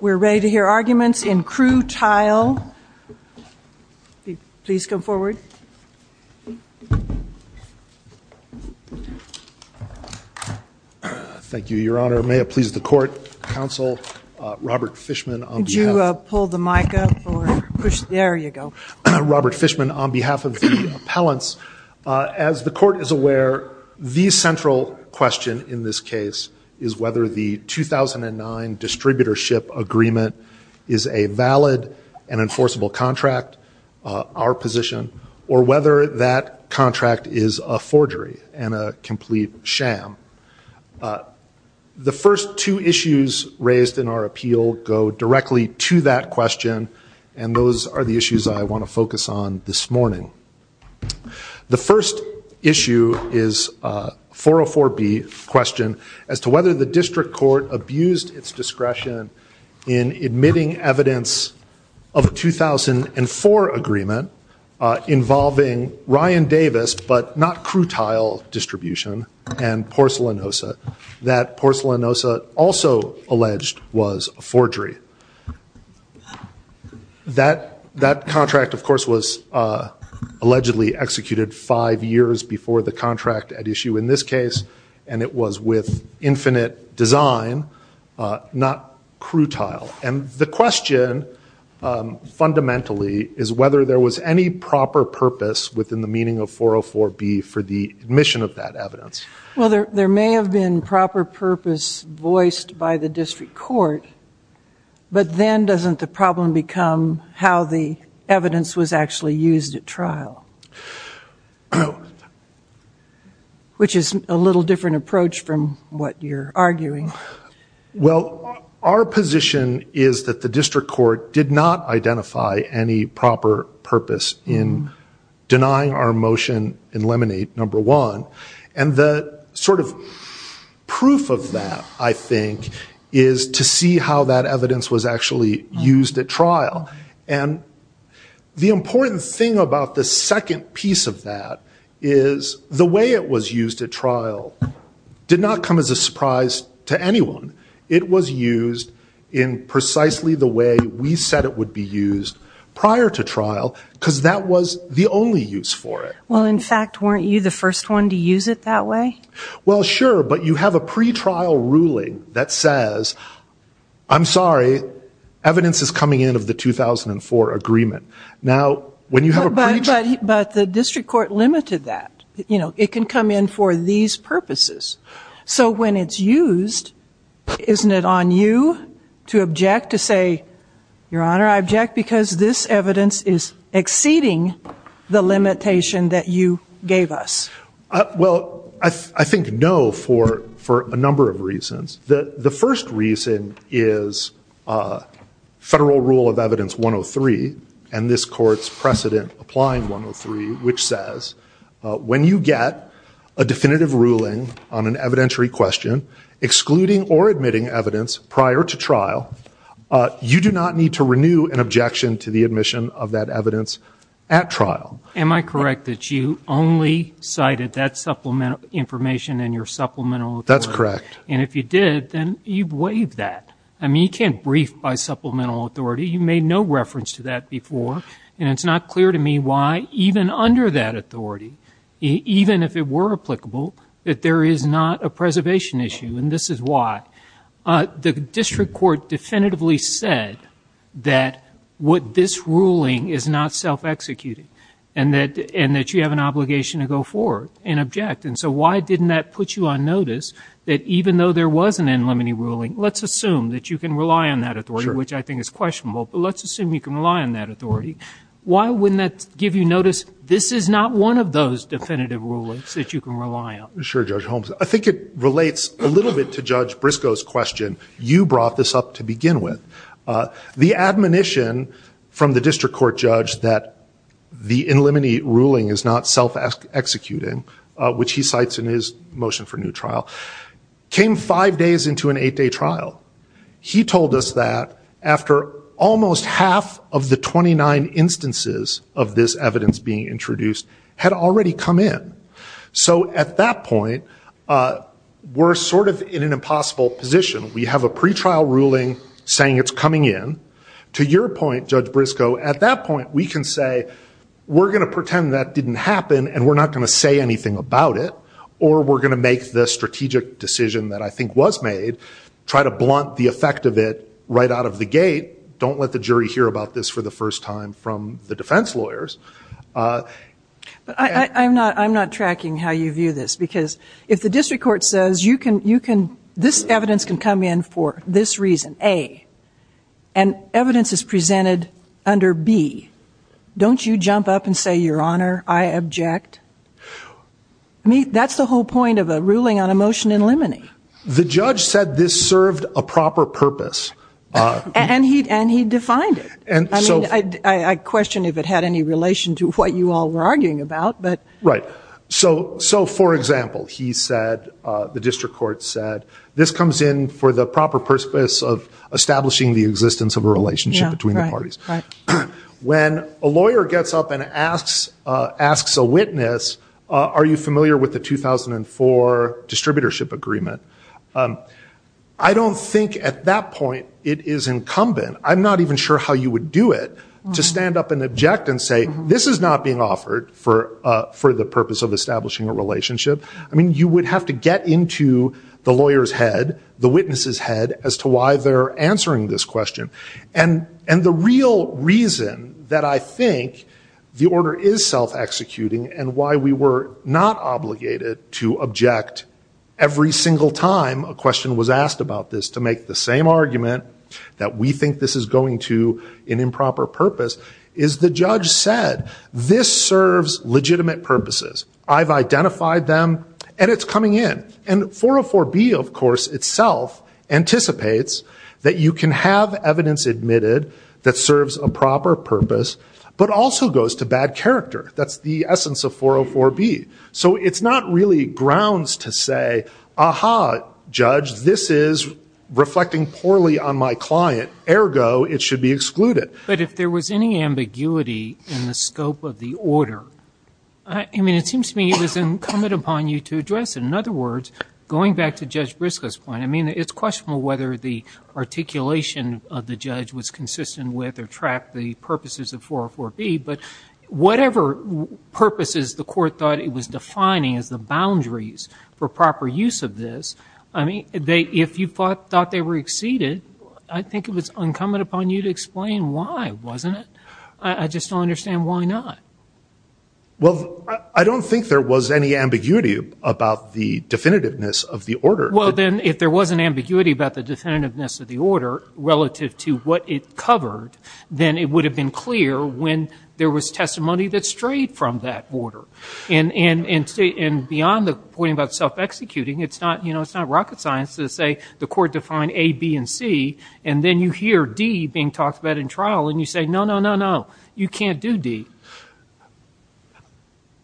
We're ready to hear arguments in Crewe Tile. Please come forward. Thank you, Your Honor. May it please the court, counsel, Robert Fishman. Could you pull the mic up or push? There you go. Robert Fishman, on behalf of the appellants, as the court is aware, the central question in this case is whether the 2009 distributorship agreement is a valid and enforceable contract, our position, or whether that contract is a forgery and a complete sham. The first two issues raised in our appeal go directly to that question, and those are the issues I want to focus on this morning. The first issue is 404B question, as to whether the district court abused its discretion in admitting evidence of a 2004 agreement involving Ryan Davis, but not Crewe Tile Distribution, and Porcelanosa. That Porcelanosa also alleged was a forgery. That contract, of course, was allegedly executed five years before the contract at issue in this case, and it was with infinite design, not Crewe Tile. And the question, fundamentally, is whether there was any proper purpose within the meaning of 404B for the admission of that evidence. Well, there may have been proper purpose voiced by the district court, but then doesn't the problem become how the evidence was actually used at trial, which is a little different approach from what you're arguing. Well, our position is that the district court did not identify any proper purpose in denying our motion in Lemonade, number one. And the sort of proof of that, I think, is to see how that evidence was actually used at trial. And the important thing about the second piece of that is the way it was used at trial did not come as a surprise to anyone. It was used in precisely the way we said it would be used prior to trial, because that was the only use for it. Well, in fact, weren't you the first one to use it that way? Well, sure, but you have a pretrial ruling that says, I'm sorry, evidence is coming in of the 2004 agreement. Now, when you have a pretrial. But the district court limited that. It can come in for these purposes. So when it's used, isn't it on you to object, to say, Your Honor, I object because this evidence is exceeding the limitation that you gave us? Well, I think no for a number of reasons. The first reason is federal rule of evidence 103, and this court's precedent applying 103, which says when you get a definitive ruling on an evidentiary question, excluding or admitting evidence prior to trial, you do not need to renew an objection to the admission of that evidence at trial. Am I correct that you only cited that supplemental information in your supplemental authority? That's correct. And if you did, then you've waived that. I mean, you can't brief by supplemental authority. You made no reference to that before. And it's not clear to me why, even under that authority, even if it were applicable, that there is not a preservation issue, and this is why. The district court definitively said that what this ruling is not self-executed, and that you have an obligation to go forward and object. And so why didn't that put you on notice that even though there was an unlimited ruling, let's assume that you can rely on that authority, which I think is questionable. But let's assume you can rely on that authority. Why wouldn't that give you notice this is not one of those definitive rulings that you can rely on? Sure, Judge Holmes. I think it relates a little bit to Judge Briscoe's question. You brought this up to begin with. The admonition from the district court judge that the unlimited ruling is not self-executing, which he cites in his motion for new trial, came five days into an eight-day trial. He told us that after almost half of the 29 instances of this evidence being introduced had already come in. So at that point, we're sort of in an impossible position. We have a pretrial ruling saying it's coming in. To your point, Judge Briscoe, at that point, we can say we're going to pretend that didn't happen and we're not going to say anything about it, or we're going to make the strategic decision that I think was made, try to blunt the effect of it right out of the gate, don't let the jury hear about this for the first time from the defense lawyers. But I'm not tracking how you view this. Because if the district court says you can this evidence can come in for this reason, A, and evidence is presented under B, don't you jump up and say, your honor, I object? That's the whole point of a ruling on a motion in limine. The judge said this served a proper purpose. And he defined it. I question if it had any relation to what you all were arguing about. Right. So for example, he said, the district court said, this comes in for the proper purpose of establishing the existence of a relationship between the parties. When a lawyer gets up and asks a witness, are you familiar with the 2004 distributorship agreement? I don't think at that point it is incumbent. I'm not even sure how you would do it to stand up and object and say, this is not being offered for the purpose of establishing a relationship. I mean, you would have to get into the lawyer's head, the witness's head, as to why they're answering this question. And the real reason that I think the order is self-executing and why we were not obligated to object every single time a question was asked about this to make the same argument that we think this is going to an improper purpose is the judge said, this serves legitimate purposes. I've identified them, and it's coming in. And 404B, of course, itself anticipates that you can have evidence admitted that serves a proper purpose, but also goes to bad character. That's the essence of 404B. So it's not really grounds to say, aha, judge, this is reflecting poorly on my client. Ergo, it should be excluded. But if there was any ambiguity in the scope of the order, I mean, it seems to me it was incumbent upon you to address it. In other words, going back to Judge Briscoe's point, I mean, it's questionable whether the articulation of the judge was consistent with or tracked the purposes of 404B. But whatever purposes the court thought it was defining as the boundaries for proper use of this, I mean, if you thought they were exceeded, I think it was incumbent upon you to explain why, wasn't it? I just don't understand why not. Well, I don't think there was any ambiguity about the definitiveness of the order. Well, then, if there was an ambiguity about the definitiveness of the order relative to what it covered, then it would have been clear when there was testimony that strayed from that order. And beyond the point about self-executing, it's not rocket science to say the court defined A, B, and C. And then you hear D being talked about in trial, and you say, no, no, no, no, you can't do D.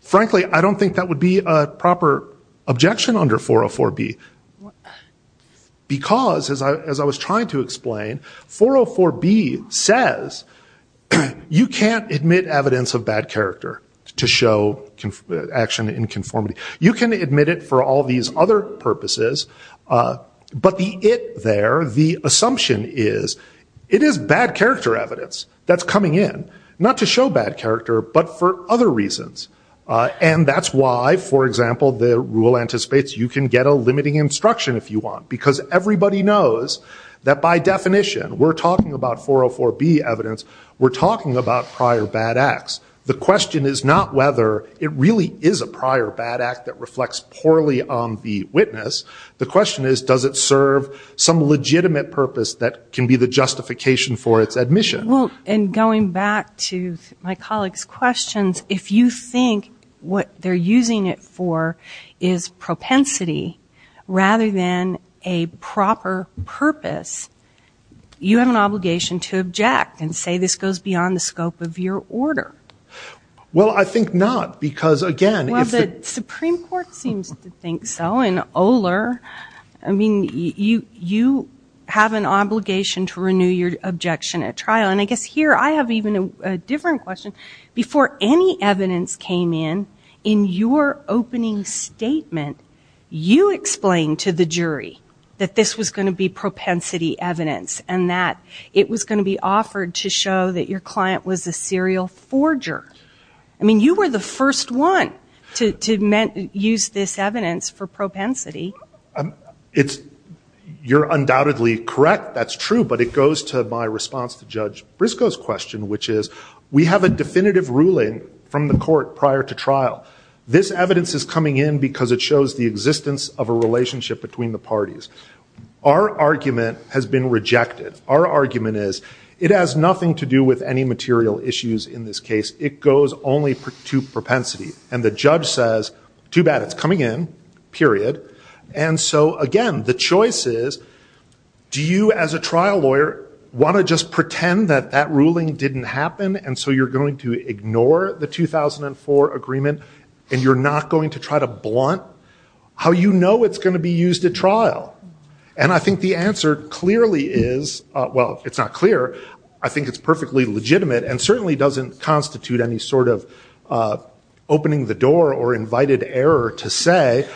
Frankly, I don't think that would be a proper objection under 404B. Because, as I was trying to explain, 404B says you can't admit evidence of bad character to show action in conformity. You can admit it for all these other purposes. But the it there, the assumption is, it is bad character evidence that's coming in, not to show bad character, but for other reasons. And that's why, for example, the rule anticipates you can get a limiting instruction if you want. Because everybody knows that, by definition, we're talking about 404B evidence. We're talking about prior bad acts. The question is not whether it really is a prior bad act that reflects poorly on the witness. The question is, does it serve some legitimate purpose that can be the justification for its admission? And going back to my colleague's questions, if you think what they're using it for is propensity, rather than a proper purpose, you have an obligation to object and say this goes beyond the scope of your order. Well, I think not. Because, again, it's the Supreme Court seems to think so. And Oler, I mean, you have an obligation to renew your objection at trial. And I guess here, I have even a different question. Before any evidence came in, in your opening statement, you explained to the jury that this was going to be propensity evidence and that it was going to be offered to show that your client was a serial forger. I mean, you were the first one to use this evidence for propensity. You're undoubtedly correct. That's true. But it goes to my response to Judge Briscoe's question, which is, we have a definitive ruling from the court prior to trial. This evidence is coming in because it shows the existence of a relationship between the parties. Our argument has been rejected. Our argument is, it has nothing to do with any material issues in this case. It goes only to propensity. And the judge says, too bad. It's coming in, period. And so again, the choice is, do you, as a trial lawyer, want to just pretend that that ruling didn't happen? And so you're going to ignore the 2004 agreement? And you're not going to try to blunt how you know it's going to be used at trial? And I think the answer clearly is, well, it's not clear. I think it's perfectly legitimate and certainly doesn't constitute any sort of opening the door or invited error to say,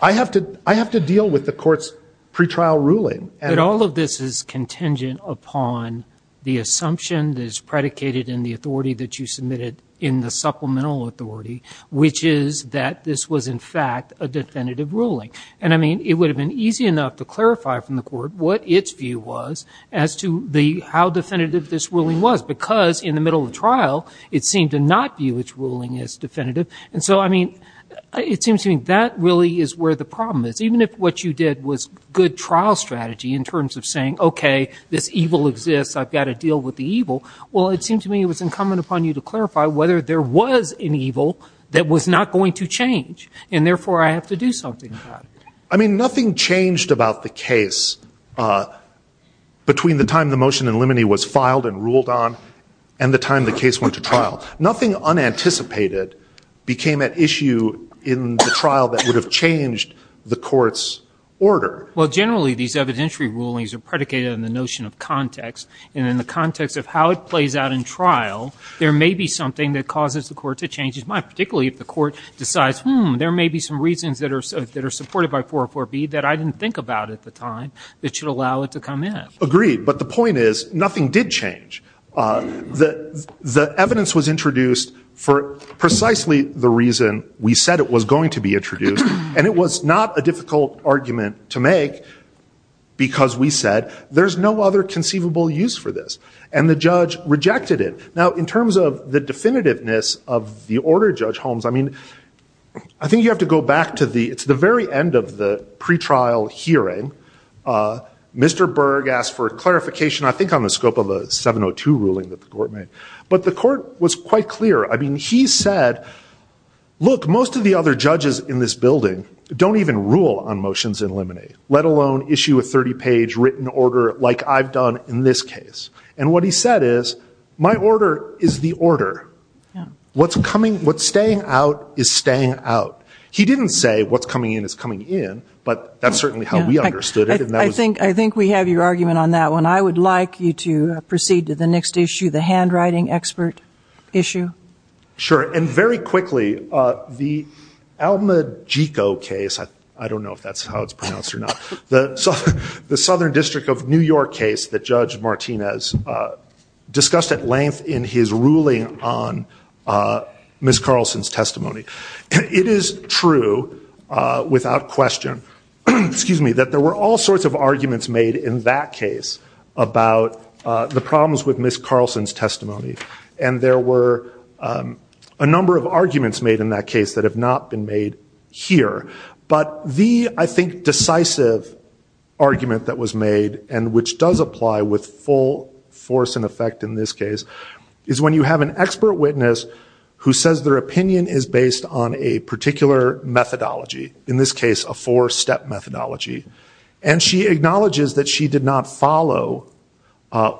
I have to deal with the court's pretrial ruling. But all of this is contingent upon the assumption that is predicated in the authority that you submitted in the supplemental authority, which is that this was, in fact, a definitive ruling. And I mean, it would have been easy enough to clarify from the court what its view was as to how definitive this ruling was. Because in the middle of trial, it seemed to not view its ruling as definitive. And so I mean, it seems to me that really is where the problem is. Even if what you did was good trial strategy in terms of saying, OK, this evil exists. I've got to deal with the evil. Well, it seemed to me it was incumbent upon you to clarify whether there was an evil that was not going to change. And therefore, I have to do something about it. I mean, nothing changed about the case between the time the motion in limine was filed and ruled on and the time the case went to trial. Nothing unanticipated became at issue in the trial that would have changed the court's order. Well, generally, these evidentiary rulings are predicated on the notion of context. And in the context of how it plays out in trial, there may be something that causes the court to change its mind, particularly if the court decides, hmm, there may be some reasons that are supported by 404B that I didn't think about at the time that should allow it to come in. Agreed. But the point is, nothing did change. The evidence was introduced for precisely the reason we said it was going to be introduced. And it was not a difficult argument to make because we said, there's no other conceivable use for this. And the judge rejected it. Now, in terms of the definitiveness of the order, Judge Holmes, I mean, I think you have to go back to the very end of the pretrial hearing. Mr. Berg asked for clarification, I think, on the scope of the 702 ruling that the court made. But the court was quite clear. I mean, he said, look, most of the other judges in this building don't even rule on motions in limine, let alone issue a 30-page written order like I've done in this case. And what he said is, my order is the order. What's staying out is staying out. He didn't say, what's coming in is coming in. But that's certainly how we understood it. I think we have your argument on that one. I would like you to proceed to the next issue, the handwriting expert issue. Sure, and very quickly, the Almagico case, I don't know if that's how it's pronounced or not, the Southern District of New York case that Judge Martinez discussed at length in his ruling on Ms. Carlson's testimony. It is true, without question, that there were all sorts of arguments made in that case about the problems with Ms. Carlson's testimony. And there were a number of arguments made in that case that have not been made here. But the, I think, decisive argument that was made, and which does apply with full force and effect in this case, is when you have an expert witness who says their opinion is based on a particular methodology, in this case, a four-step methodology. And she acknowledges that she did not follow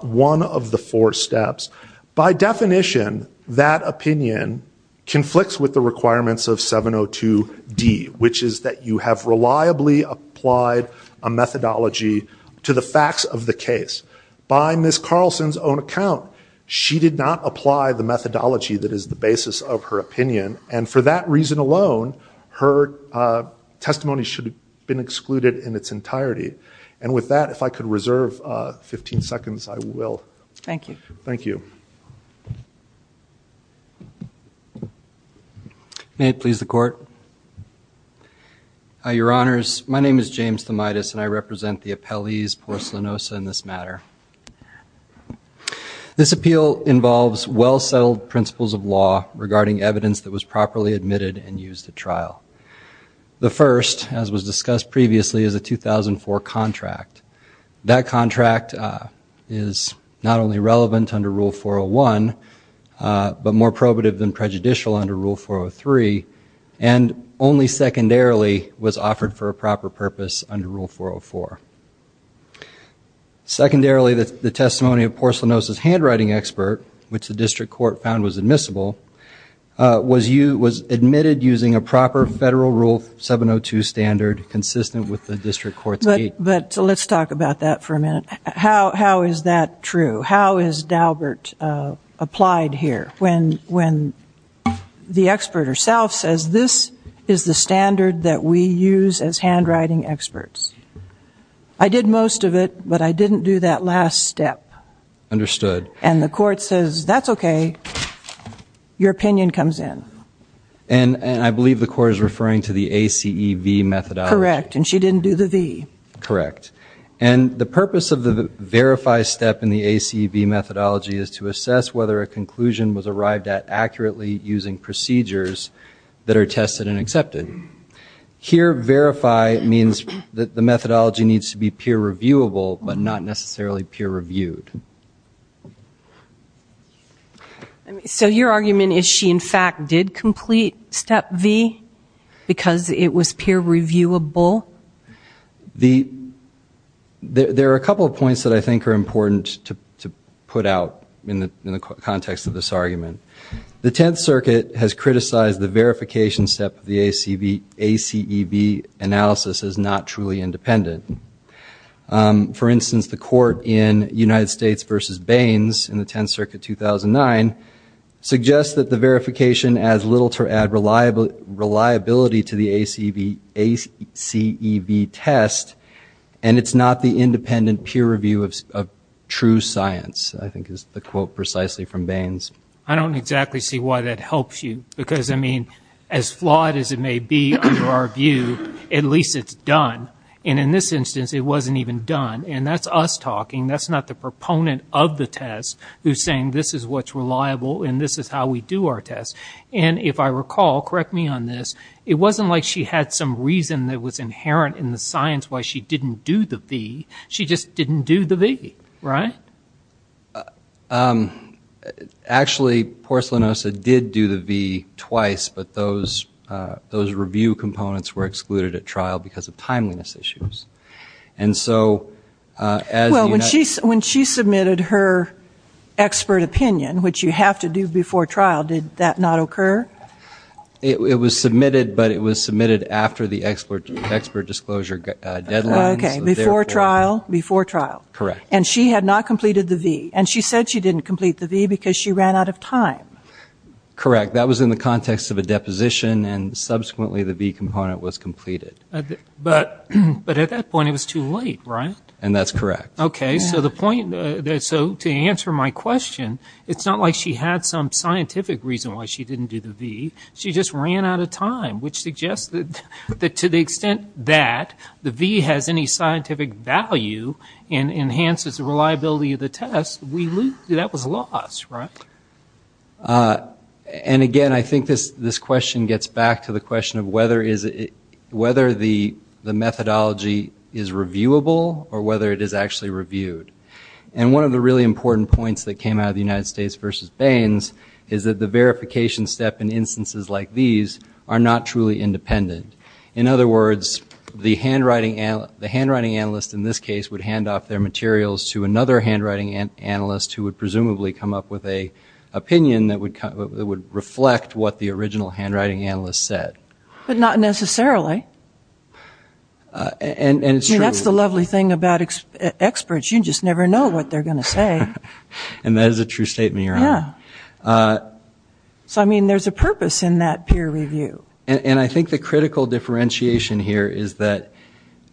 one of the four steps. By definition, that opinion conflicts with the requirements of 702D, which is that you have reliably applied a methodology to the facts of the case. By Ms. Carlson's own account, she did not apply the methodology that is the basis of her opinion. And for that reason alone, her testimony should have been excluded in its entirety. And with that, if I could reserve 15 seconds, I will. Thank you. Thank you. May it please the Court. Your Honors, my name is James Thomaitis, and I represent the appellees porcelainosa in this matter. This appeal involves well-settled principles of law regarding evidence that was properly admitted and used at trial. The first, as was discussed previously, is a 2004 contract. That contract is not only relevant under Rule 401, but more probative than prejudicial under Rule 403, and only secondarily was offered for a proper purpose under Rule 404. Secondarily, the testimony of porcelainosa's handwriting expert, which the district court found was admissible, was admitted using a proper federal Rule 702 standard consistent with the district court's gate. But let's talk about that for a minute. How is that true? How is Daubert applied here, when the expert herself says this is the standard that we use as handwriting experts? I did most of it, but I didn't do that last step. Understood. And the court says, that's OK. Your opinion comes in. And I believe the court is referring to the ACEV methodology. Correct. And she didn't do the V. Correct. And the purpose of the verify step in the ACEV methodology is to assess whether a conclusion was arrived at accurately using procedures that are tested and accepted. Here, verify means that the methodology needs to be peer-reviewable, but not necessarily peer-reviewed. So your argument is she, in fact, did complete step V, because it was peer-reviewable? There are a couple of points that I think are important to put out in the context of this argument. The Tenth Circuit has criticized the verification step of the ACEV analysis as not truly independent. For instance, the court in United States versus Baines in the Tenth Circuit 2009 suggests that the verification adds little to add reliability to the ACEV test, and it's not the independent peer review of true science, I think is the quote precisely from Baines. I don't exactly see why that helps you. Because, I mean, as flawed as it may be under our view, at least it's done. And in this instance, it wasn't even done. And that's us talking. That's not the proponent of the test who's saying, this is what's reliable, and this is how we do our tests. And if I recall, correct me on this, it wasn't like she had some reason that was inherent in the science why she didn't do the V. She just didn't do the V, right? Actually, Porcellinosa did do the V twice, but those review components were excluded at trial because of timeliness issues. And so as you know- Well, when she submitted her expert opinion, which you have to do before trial, did that not occur? It was submitted, but it was submitted after the expert disclosure deadline. Correct. And she had not complied with that. And she said she didn't complete the V because she ran out of time. Correct. That was in the context of a deposition, and subsequently, the V component was completed. But at that point, it was too late, right? And that's correct. OK, so to answer my question, it's not like she had some scientific reason why she didn't do the V. She just ran out of time, which suggests that to the extent that the V has any scientific value and enhances the reliability of the test, that was lost, right? And again, I think this question gets back to the question of whether the methodology is reviewable or whether it is actually reviewed. And one of the really important points that came out of the United States versus Bains is that the verification step in instances like these are not truly independent. In other words, the handwriting analyst in this case would hand off their materials to another handwriting analyst who would presumably come up with a opinion that would reflect what the original handwriting analyst said. But not necessarily. And it's true. That's the lovely thing about experts. You just never know what they're going to say. And that is a true statement, Your Honor. So I mean, there's a purpose in that peer review. And I think the critical differentiation here is that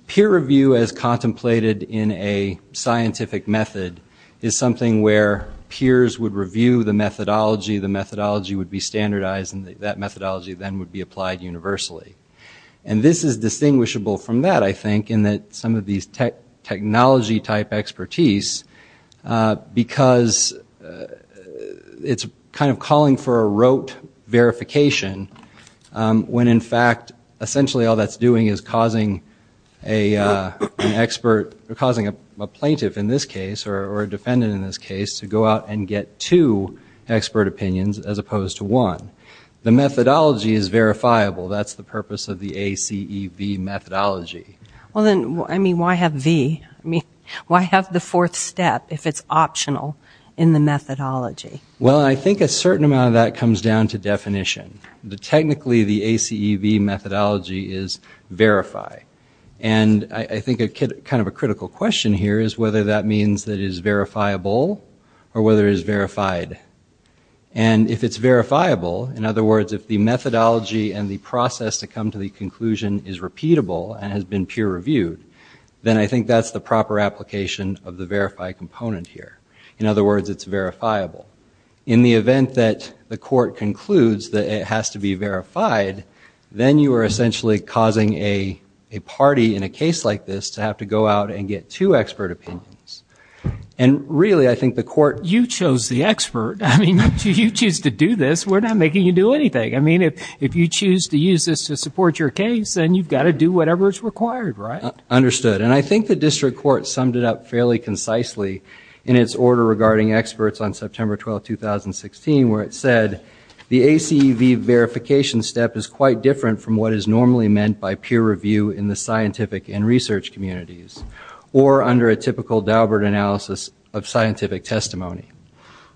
peer review as contemplated in a scientific method is something where peers would review the methodology, the methodology would be standardized, and that methodology then would be applied universally. And this is distinguishable from that, I think, in that some of these technology type expertise, because it's kind of calling for a rote verification when, in fact, essentially all that's doing is causing a plaintiff in this case, or a defendant in this case, to go out and get two expert opinions as opposed to one. The methodology is verifiable. That's the purpose of the ACEV methodology. Well then, I mean, why have the fourth step if it's optional in the methodology? Well, I think a certain amount of that comes down to definition. Technically, the ACEV methodology is verify. And I think kind of a critical question here is whether that means that it is verifiable or whether it is verified. And if it's verifiable, in other words, if the methodology and the process to come to the conclusion is repeatable and has been peer reviewed, then I think that's the proper application of the verify component here. In other words, it's verifiable. In the event that the court concludes that it has to be verified, then you are essentially causing a party in a case like this to have to go out and get two expert opinions. And really, I think the court- You chose the expert. I mean, if you choose to do this, we're not making you do anything. I mean, if you choose to use this to support your case, then you've got to do whatever is required, right? Understood. And I think the district court summed it up fairly concisely in its order regarding experts on September 12, 2016, where it said, the ACV verification step is quite different from what is normally meant by peer review in the scientific and research communities or under a typical Daubert analysis of scientific testimony.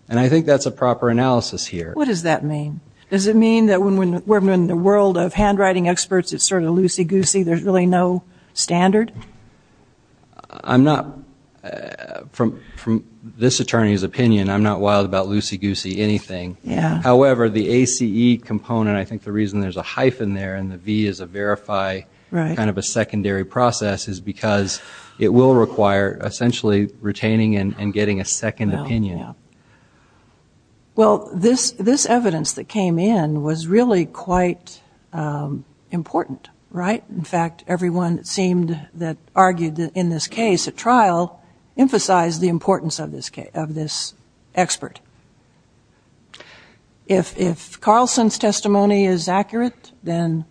And I think that's a proper analysis here. What does that mean? Does it mean that when we're in the world of handwriting experts, it's sort of loosey-goosey? There's really no standard? I'm not, from this attorney's opinion, I'm not wild about loosey-goosey anything. However, the ACE component, I think the reason there's a hyphen there and the V is a verify, kind of a secondary process, is because it will require essentially retaining and getting a second opinion. Well, this evidence that came in was really quite important, right? In fact, everyone, it seemed, that argued in this case at trial emphasized the importance of this expert. If Carlson's testimony is accurate, then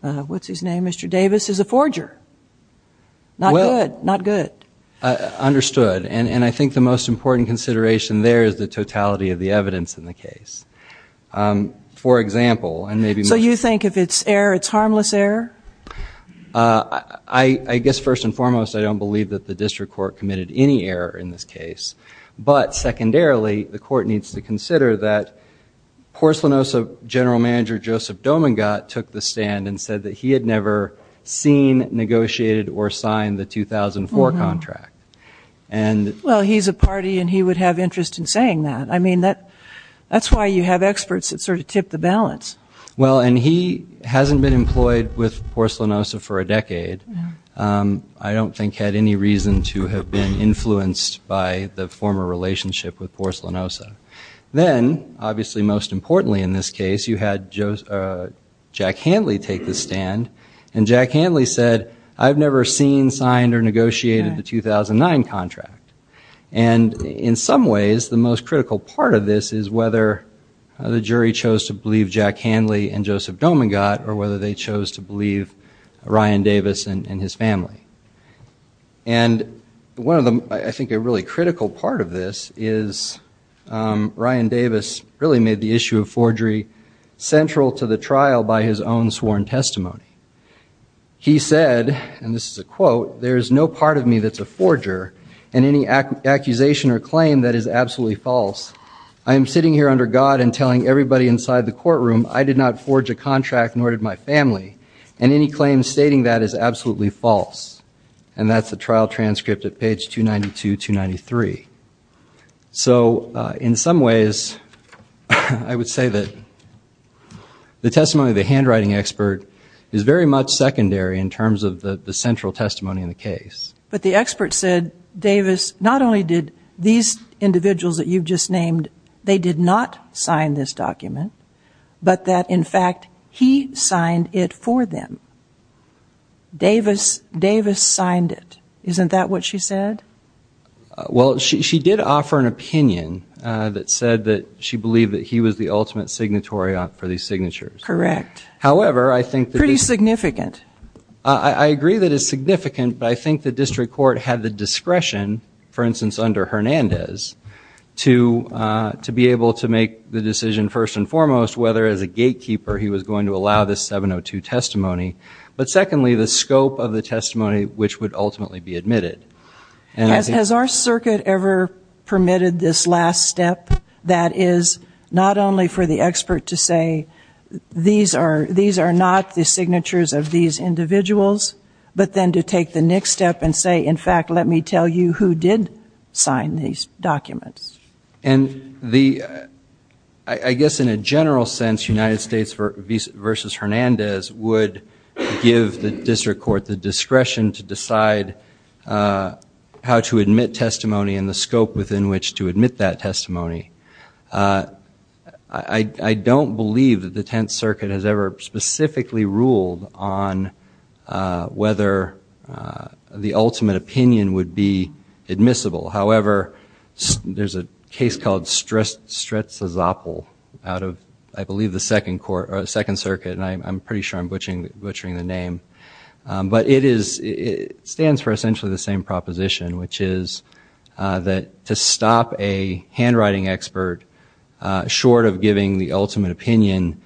what's his name, Mr. Davis, is a forger. Not good. Not good. Understood. And I think the most important consideration there is the totality of the evidence in the case. For example, and maybe much more. It's harmless error? I guess first and foremost, I don't believe that the district court committed any error in this case. But secondarily, the court needs to consider that Porcelanosa general manager Joseph Dominga took the stand and said that he had never seen, negotiated, or signed the 2004 contract. Well, he's a party and he would have interest in saying that. I mean, that's why you have experts that sort of tip the balance. Well, and he hasn't been employed with Porcelanosa for a decade. I don't think had any reason to have been influenced by the former relationship with Porcelanosa. Then, obviously most importantly in this case, you had Jack Handley take the stand. And Jack Handley said, I've never seen, signed, or negotiated the 2009 contract. And in some ways, the most critical part of this is whether the jury chose to believe Jack Handley and Joseph Dominga, or whether they chose to believe Ryan Davis and his family. And I think a really critical part of this is Ryan Davis really made the issue of forgery central to the trial by his own sworn testimony. He said, and this is a quote, there is no part of me that's a forger, and any accusation or claim that is absolutely false. I am sitting here under God and telling everybody inside the courtroom, I did not forge a contract, nor did my family. And any claim stating that is absolutely false. And that's the trial transcript at page 292, 293. So in some ways, I would say that the testimony of the handwriting expert is very much secondary in terms of the central testimony in the case. But the expert said, Davis, not only these individuals that you've just named, they did not sign this document, but that, in fact, he signed it for them. Davis signed it. Isn't that what she said? Well, she did offer an opinion that said that she believed that he was the ultimate signatory for these signatures. Correct. However, I think that is significant. I agree that it's significant, but I think the district court had the discretion, for instance, under Hernandez to be able to make the decision, first and foremost, whether, as a gatekeeper, he was going to allow this 702 testimony, but secondly, the scope of the testimony which would ultimately be admitted. Has our circuit ever permitted this last step that is not only for the expert to say, these are not the signatures of these individuals, but then to take the next step and say, in fact, let me tell you who did sign these documents. And I guess, in a general sense, United States versus Hernandez would give the district court the discretion to decide how to admit testimony and the scope within which to admit that testimony. I don't believe that the Tenth Circuit has ever specifically ruled on whether the ultimate opinion would be admissible. However, there's a case called Stretczyzopol out of, I believe, the Second Circuit. And I'm pretty sure I'm butchering the name. But it stands for essentially the same proposition, which is that to stop a handwriting expert short of giving the ultimate opinion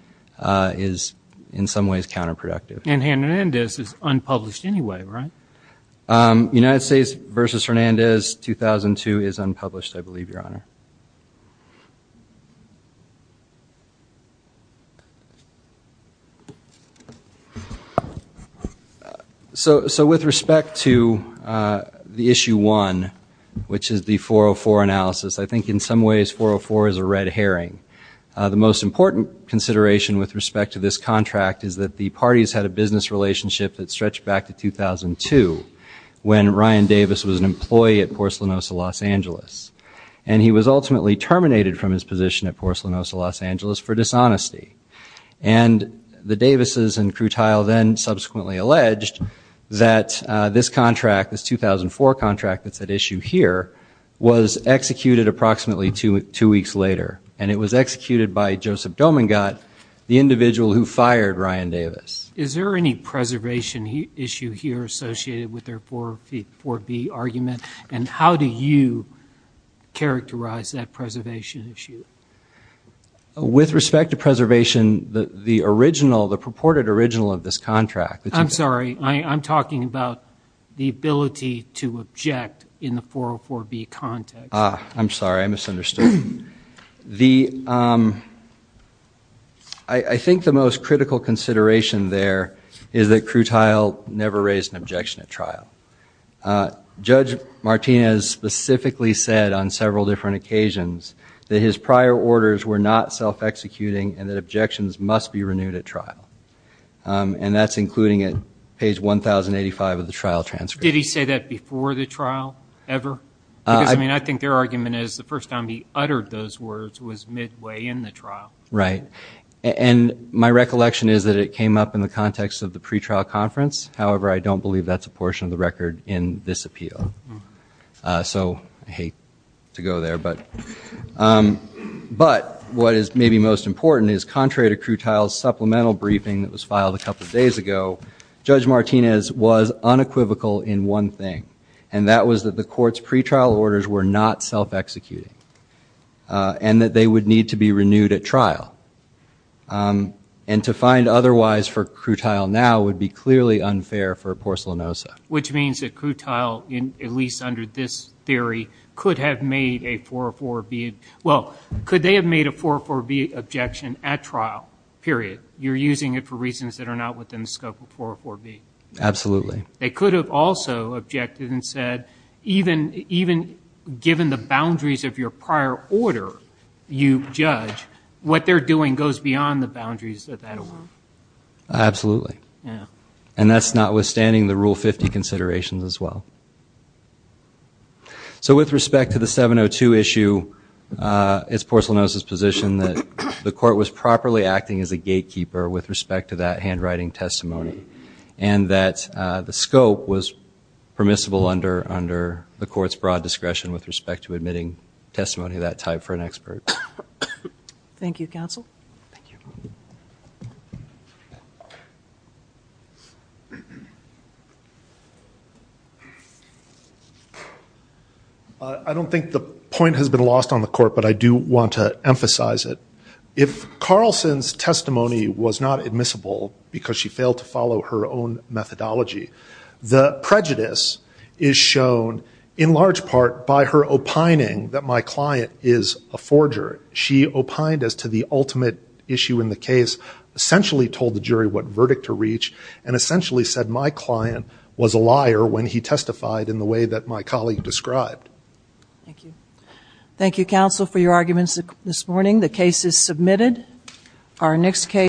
is, in some ways, counterproductive. And Hernandez is unpublished anyway, right? United States versus Hernandez 2002 is unpublished, I believe, Your Honor. So with respect to the issue one, which is the 404 analysis, I think in some ways 404 is a red herring. The most important consideration with respect to this contract is that the parties had a business relationship that stretched back to 2002 when Ryan Davis was an employee at Porcelanosa Los Angeles. And he was ultimately terminated from his position at Porcelanosa Los Angeles for dishonesty. And the Davises and Krutile then subsequently alleged that this contract, this 2004 contract that's at issue here, was executed approximately two weeks later. And it was executed by Joseph Domingat, the individual who hired Ryan Davis. Is there any preservation issue here associated with their 404B argument? And how do you characterize that preservation issue? With respect to preservation, the original, the purported original of this contract. I'm sorry, I'm talking about the ability to object in the 404B context. I'm sorry, I misunderstood. The, I think the most critical consideration there is that Krutile never raised an objection at trial. Judge Martinez specifically said on several different occasions that his prior orders were not self-executing and that objections must be renewed at trial. And that's including at page 1,085 of the trial transcript. Did he say that before the trial ever? Because I mean, I think their argument is the first time he uttered those words was midway in the trial. Right. And my recollection is that it came up in the context of the pretrial conference. However, I don't believe that's a portion of the record in this appeal. So I hate to go there. But what is maybe most important is contrary to Krutile's supplemental briefing that was filed a couple of days ago, Judge Martinez was unequivocal in one thing. And that was that the court's pretrial orders were not self-executing. And that they would need to be renewed at trial. And to find otherwise for Krutile now would be clearly unfair for Porcelanosa. Which means that Krutile, at least under this theory, could have made a 404B. Well, could they have made a 404B objection at trial, period? You're using it for reasons that are not within the scope of 404B. Absolutely. They could have also objected and said, even given the boundaries of your prior order you judge, what they're doing goes beyond the boundaries of that order. Absolutely. And that's notwithstanding the Rule 50 considerations as well. So with respect to the 702 issue, it's Porcelanosa's position that the court was properly acting as a gatekeeper with respect to that handwriting testimony. And that the scope was permissible under the court's broad discretion with respect to admitting testimony of that type for an expert. Thank you, counsel. Thank you. I don't think the point has been lost on the court, but I do want to emphasize it. If Carlson's testimony was not admissible because she failed to follow her own methodology, the prejudice is shown in large part by her opining that my client is a forger. She opined as to the ultimate issue in the case, essentially told the jury what verdict to reach, and essentially said my client was a liar when he testified in the way that my colleague described. Thank you, counsel, for your arguments this morning. The case is submitted. Our next case.